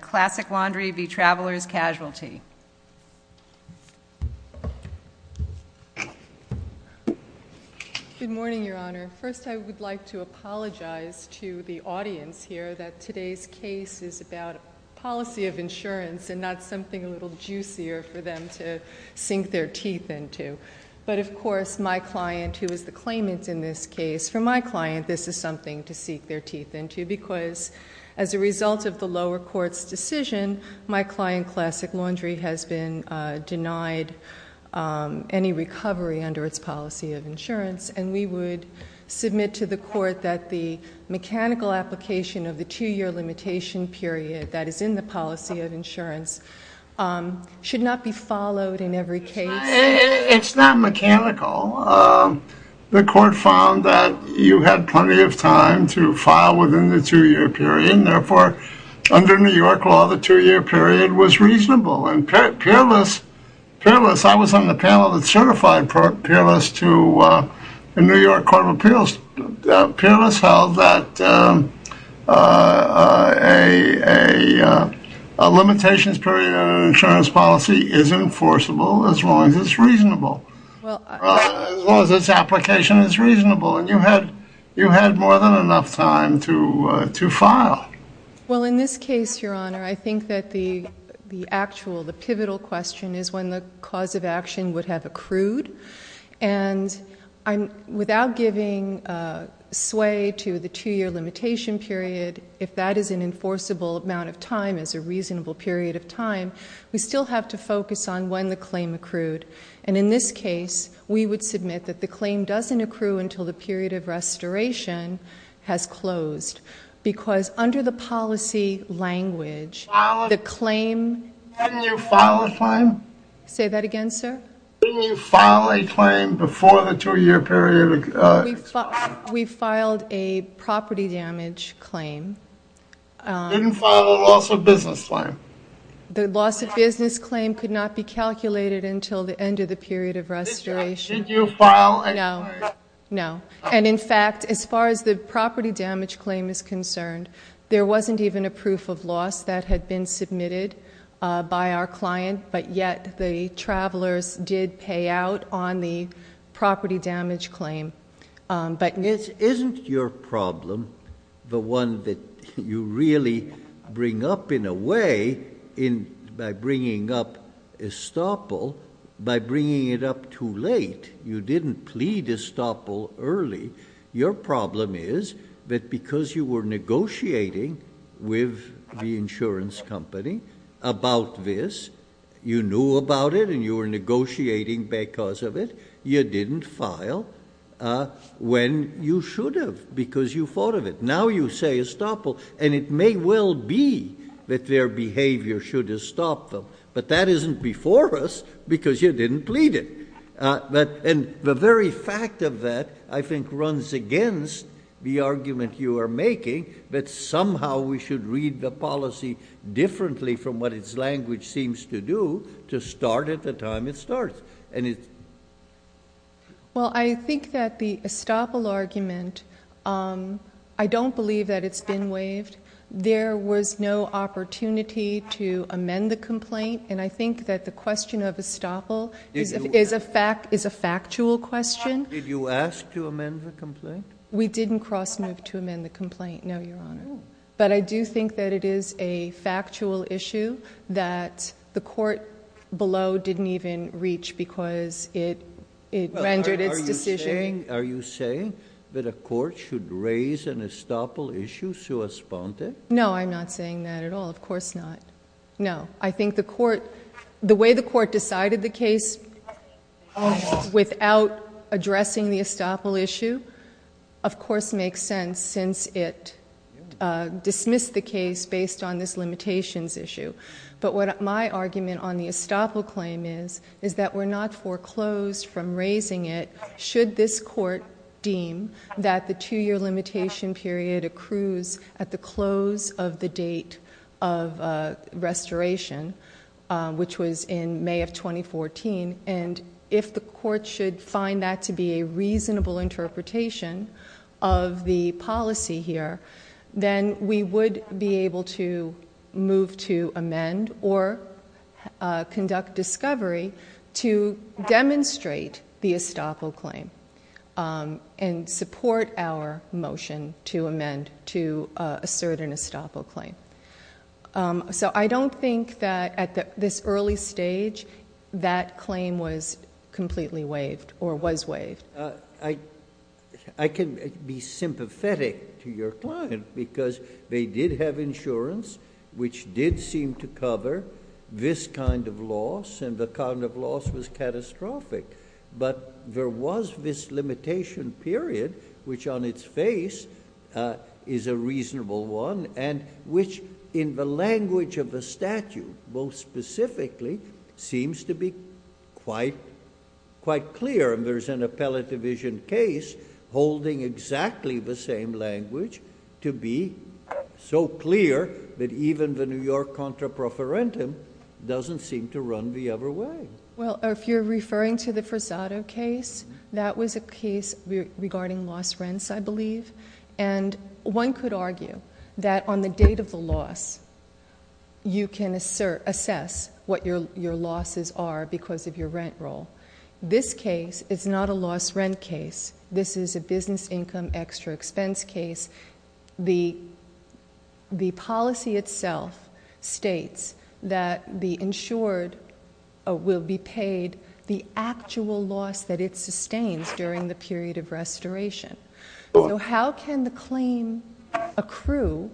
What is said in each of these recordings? Classic Laundry v. Traveler's Casualty. Good morning, Your Honor. First, I would like to apologize to the audience here that today's case is about policy of insurance and not something a little juicier for them to sink their teeth into. But of course, my client, who is the claimant in this case, for my client, this is something to sink their teeth into. Because as a result of the lower court's decision, my client, Classic Laundry, has been denied any recovery under its policy of insurance. And we would submit to the court that the mechanical application of the two-year limitation period that is in the policy of insurance should not be followed in every case. It's not mechanical. The court found that you had plenty of time to file within the two-year period. And therefore, under New York law, the two-year period was reasonable. And Peerless, I was on the panel that certified Peerless to the New York Court of Appeals. Peerless held that a limitations period in an insurance policy is enforceable as long as it's reasonable, as long as its application is reasonable. And you had more than enough time to file. Well, in this case, Your Honor, I think that the actual, the pivotal question is when the cause of action would have accrued. And without giving sway to the two-year limitation period, if that is an enforceable amount of time as a reasonable period of time, we still have to focus on when the claim accrued. And in this case, we would submit that the claim doesn't accrue until the period of restoration has closed. Because under the policy language, the claim Didn't you file a claim? Say that again, sir? Didn't you file a claim before the two-year period expired? We filed a property damage claim. Didn't file a loss of business claim. be calculated until the end of the period of restoration. Didn't you file a claim? No. And in fact, as far as the property damage claim is concerned, there wasn't even a proof of loss that had been submitted by our client. But yet, the travelers did pay out on the property damage claim. Isn't your problem the one that you really bring up in a way by bringing up estoppel by bringing it up too late? You didn't plead estoppel early. Your problem is that because you were negotiating with the insurance company about this, you knew about it and you were negotiating because of it, you didn't file when you should have because you thought of it. Now you say estoppel, and it may well be that their behavior should estoppel, but that isn't before us because you didn't plead it. And the very fact of that, I think, runs against the argument you are making that somehow we should read the policy differently from what its language seems to do to start at the time it starts. Well, I think that the estoppel argument, I don't believe that it's been waived. There was no opportunity to amend the complaint. And I think that the question of estoppel is a factual question. Did you ask to amend the complaint? We didn't cross move to amend the complaint, no, Your Honor. But I do think that it is a factual issue that the court below didn't even reach because it rendered its decision. Are you saying that a court should raise an estoppel issue sui sponte? No, I'm not saying that at all. Of course not. No, I think the way the court decided the case without addressing the estoppel issue, of course, makes sense since it dismissed the case based on this limitations issue. But what my argument on the estoppel claim is is that we're not foreclosed from raising it should this court deem that the two-year limitation period accrues at the close of the date of restoration, which was in May of 2014. And if the court should find that to be a reasonable interpretation of the policy here, then we would be able to move to amend or conduct discovery to demonstrate the estoppel claim and support our motion to amend to assert an estoppel claim. So I don't think that at this early stage that claim was completely waived or was waived. I can be sympathetic to your client because they did have insurance, which did seem to cover this kind of loss. And the kind of loss was catastrophic. But there was this limitation period, which on its face is a reasonable one, and which in the language of the statute most specifically seems to be quite clear. And there is an appellate division case holding exactly the same language to be so clear that even the New York contra profferentum doesn't seem to run the other way. Well, if you're referring to the Frisato case, that was a case regarding lost rents, I believe. And one could argue that on the date of the loss, you can assess what your losses are because of your rent roll. This case is not a lost rent case. This is a business income extra expense case. The policy itself states that the insured will be paid the actual loss that it sustains during the period of restoration. So how can the claim accrue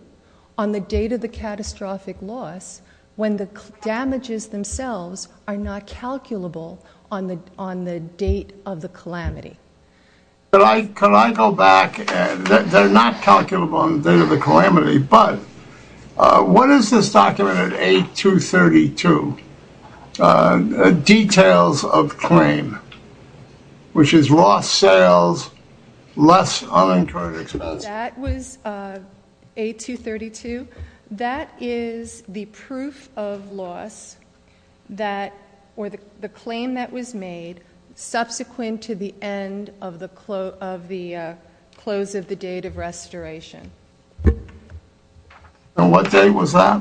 on the date of the catastrophic loss when the damages themselves are not calculable on the date of the calamity? Could I go back? They're not calculable on the date of the calamity. But what is this document at A232? Details of claim, which is lost sales, less unincurred expense. That was A232. That is the proof of loss that or the claim that was made subsequent to the end of the close of the date of restoration. And what day was that?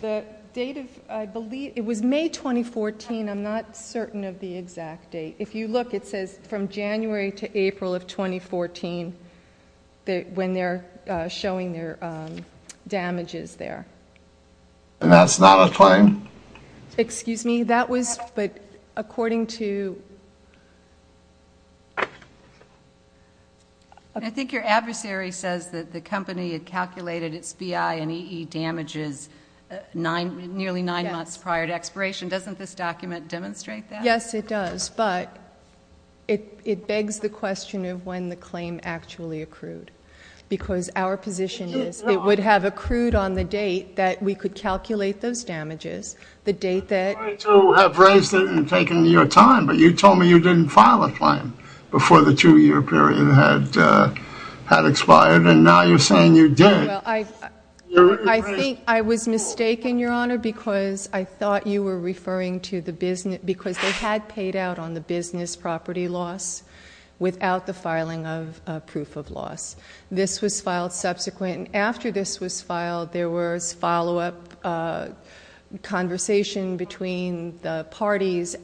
The date of, I believe it was May 2014. I'm not certain of the exact date. If you look, it says from January to April of 2014 when they're showing their damages there. And that's not a claim? Excuse me, that was, but according to. I think your adversary says that the company had calculated its BI and EE damages nearly nine months prior to expiration. Doesn't this document demonstrate that? Yes, it does. But it begs the question of when the claim actually accrued. Because our position is it would have accrued on the date that we could calculate those damages. The date that. I, too, have raised it and taken your time. But you told me you didn't file a claim before the two-year period had expired. And now you're saying you did. I think I was mistaken, Your Honor, because I thought you were referring to the business. Because they had paid out on the business property loss without the filing of proof of loss. This was filed subsequent. After this was filed, there was follow-up conversation between the parties,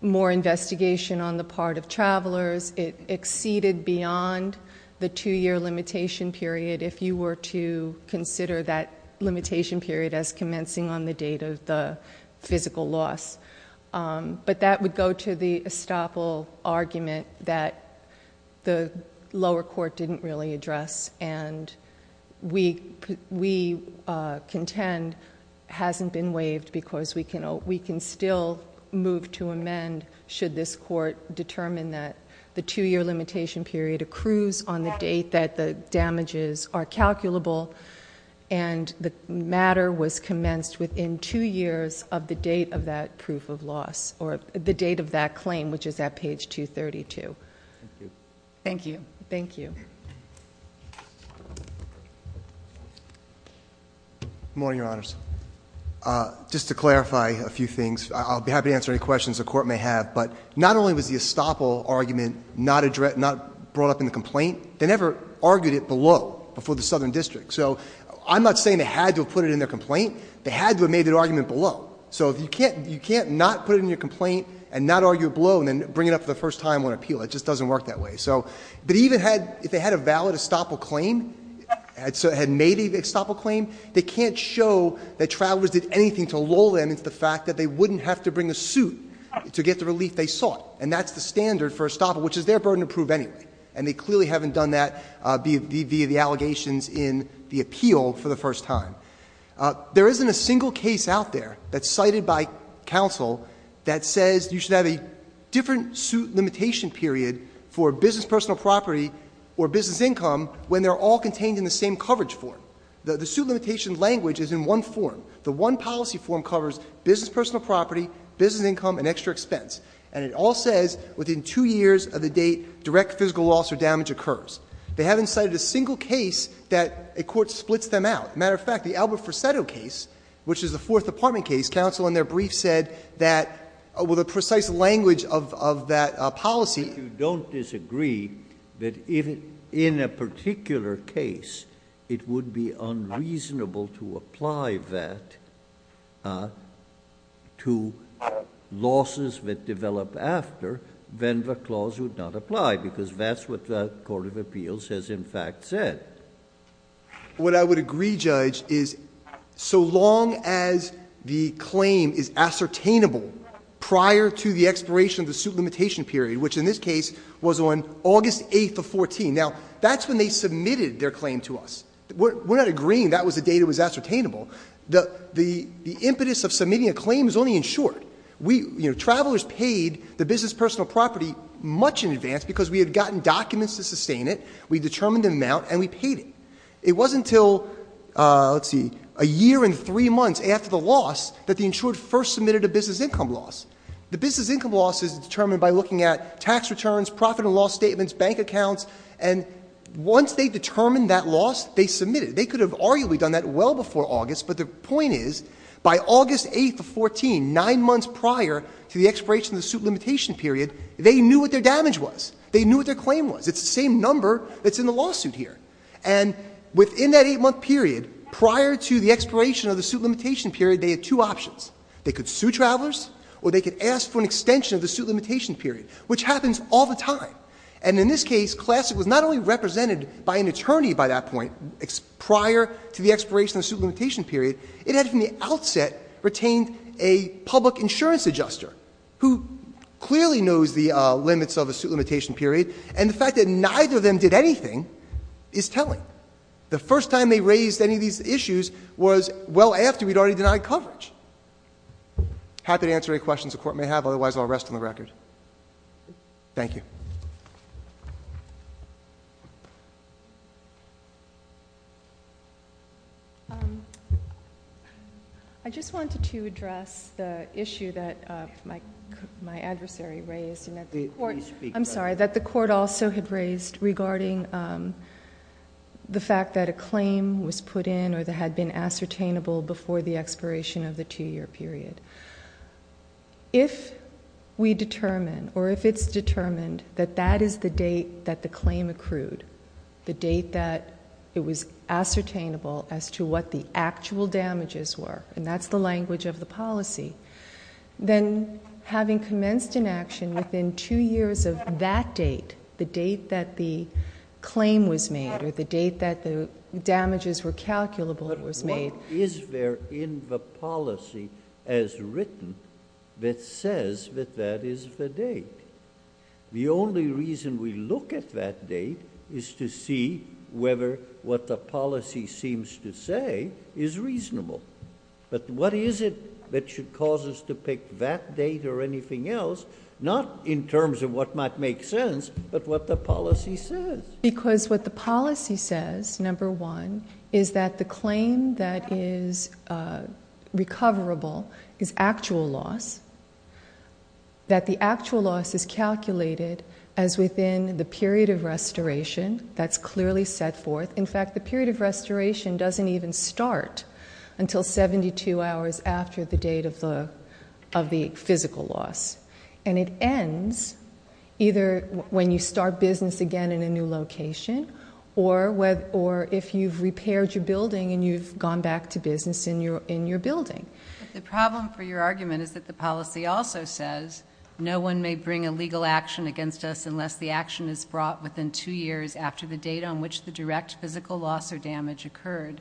more investigation on the part of travelers. It exceeded beyond the two-year limitation period if you were to consider that limitation period as commencing on the date of the physical loss. But that would go to the estoppel argument that the lower court didn't really address. And we contend hasn't been waived because we can still move to amend should this court determine that the two-year limitation period accrues on the date that the damages are calculable. And the matter was commenced within two years of the date of that proof of loss, or the date of that claim, which is at page 232. Thank you. Thank you. Good morning, Your Honors. Just to clarify a few things, I'll be happy to answer any questions the court may have. But not only was the estoppel argument not brought up in the complaint, they never argued it below, before the Southern District. So I'm not saying they had to have put it in their complaint. They had to have made their argument below. So you can't not put it in your complaint and not argue it below and then bring it up for the first time on appeal. It just doesn't work that way. But even if they had a valid estoppel claim, had made a estoppel claim, they can't show that travelers did anything to lull them into the fact that they wouldn't have to bring a suit to get the relief they sought. And that's the standard for estoppel, which is their burden to prove anyway. And they clearly haven't done that via the allegations in the appeal for the first time. There isn't a single case out there that's cited by counsel that says you should have a different suit limitation period for business personal property or business income when they're all contained in the same coverage form. The suit limitation language is in one form. The one policy form covers business personal property, business income, and extra expense. And it all says within two years of the date direct physical loss or damage occurs. They haven't cited a single case that a court splits them out. Matter of fact, the Albert Forsetto case, which is the Fourth Department case, counsel in their brief said that, with the precise language of that policy. If you don't disagree that in a particular case, it would be unreasonable to apply that to losses that develop after, then the clause would not apply because that's what the Court of Appeals has in fact said. What I would agree, Judge, is so long as the claim is ascertainable prior to the expiration of the suit limitation period, which in this case was on August 8th of 14. Now, that's when they submitted their claim to us. We're not agreeing that was the date it was ascertainable. The impetus of submitting a claim is only in short. Travelers paid the business personal property much in advance because we had gotten documents to sustain it, we determined the amount, and we paid it. It wasn't until, let's see, a year and three months after the loss that the insured first submitted a business income loss. The business income loss is determined by looking at tax returns, profit and loss statements, bank accounts, and once they determined that loss, they submitted it. They could have arguably done that well before August, but the point is, by August 8th of 14, nine months prior to the expiration of the suit limitation period, they knew what their damage was. They knew what their claim was. It's the same number that's in the lawsuit here. And within that eight month period, prior to the expiration of the suit limitation period, they had two options. They could sue travelers, or they could ask for an extension of the suit limitation period, which happens all the time. And in this case, Classic was not only represented by an attorney by that point, prior to the expiration of the suit limitation period, it had from the outset retained a public insurance adjuster who clearly knows the limits of a suit limitation period, and the fact that neither of them did anything is telling. The first time they raised any of these issues was well after we'd already denied coverage. Happy to answer any questions the court may have, otherwise I'll rest on the record. Thank you. I just wanted to address the issue that my adversary raised, and that the court, I'm sorry, that the court also had raised regarding the fact that a claim was put in, or that had been ascertainable before the expiration of the two year period. If we determine, or if it's determined that that is the date that the claim accrued, the date that it was ascertainable as to what the actual damages were, and that's the language of the policy, then having commenced an action within two years of that date, the date that the claim was made, or the date that the damages were calculable was made. Is there in the policy as written that says that that is the date? The only reason we look at that date is to see whether what the policy seems to say is reasonable. But what is it that should cause us to pick that date or anything else, not in terms of what might make sense, but what the policy says? Because what the policy says, number one, is that the claim that is recoverable is actual loss, that the actual loss is calculated as within the period of restoration that's clearly set forth. In fact, the period of restoration doesn't even start until 72 hours after the date of the physical loss. And it ends either when you start business again in a new location, or if you've repaired your building and you've gone back to business in your building. The problem for your argument is that the policy also says no one may bring a legal action against us unless the action is brought within two years after the date on which the direct physical loss or damage occurred,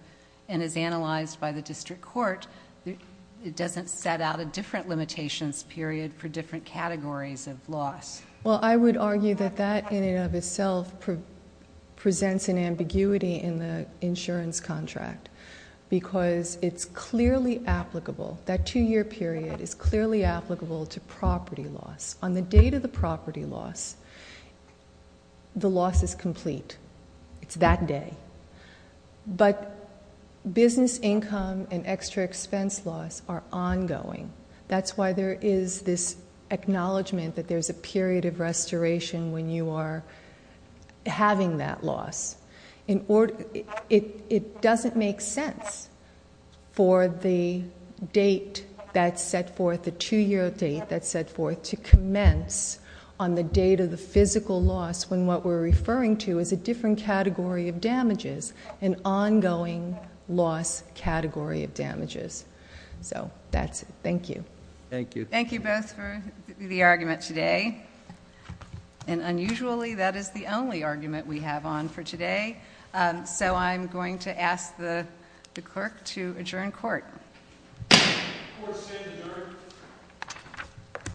and as analyzed by the district court, it doesn't set out a different limitations period for different categories of loss. Well, I would argue that that in and of itself presents an ambiguity in the insurance contract, because it's clearly applicable, that two-year period is clearly applicable to property loss. On the date of the property loss, the loss is complete. It's that day. But business income and extra expense loss are ongoing. That's why there is this acknowledgment that there's a period of restoration when you are having that loss. It doesn't make sense for the date that's set forth, the two-year date that's set forth, to commence on the date of the physical loss when what we're referring to is a different category of damages, an ongoing loss category of damages. So, that's it, thank you. Thank you. Thank you both for the argument today. And unusually, that is the only argument we have on for today. So I'm going to ask the clerk to adjourn court. Court is adjourned.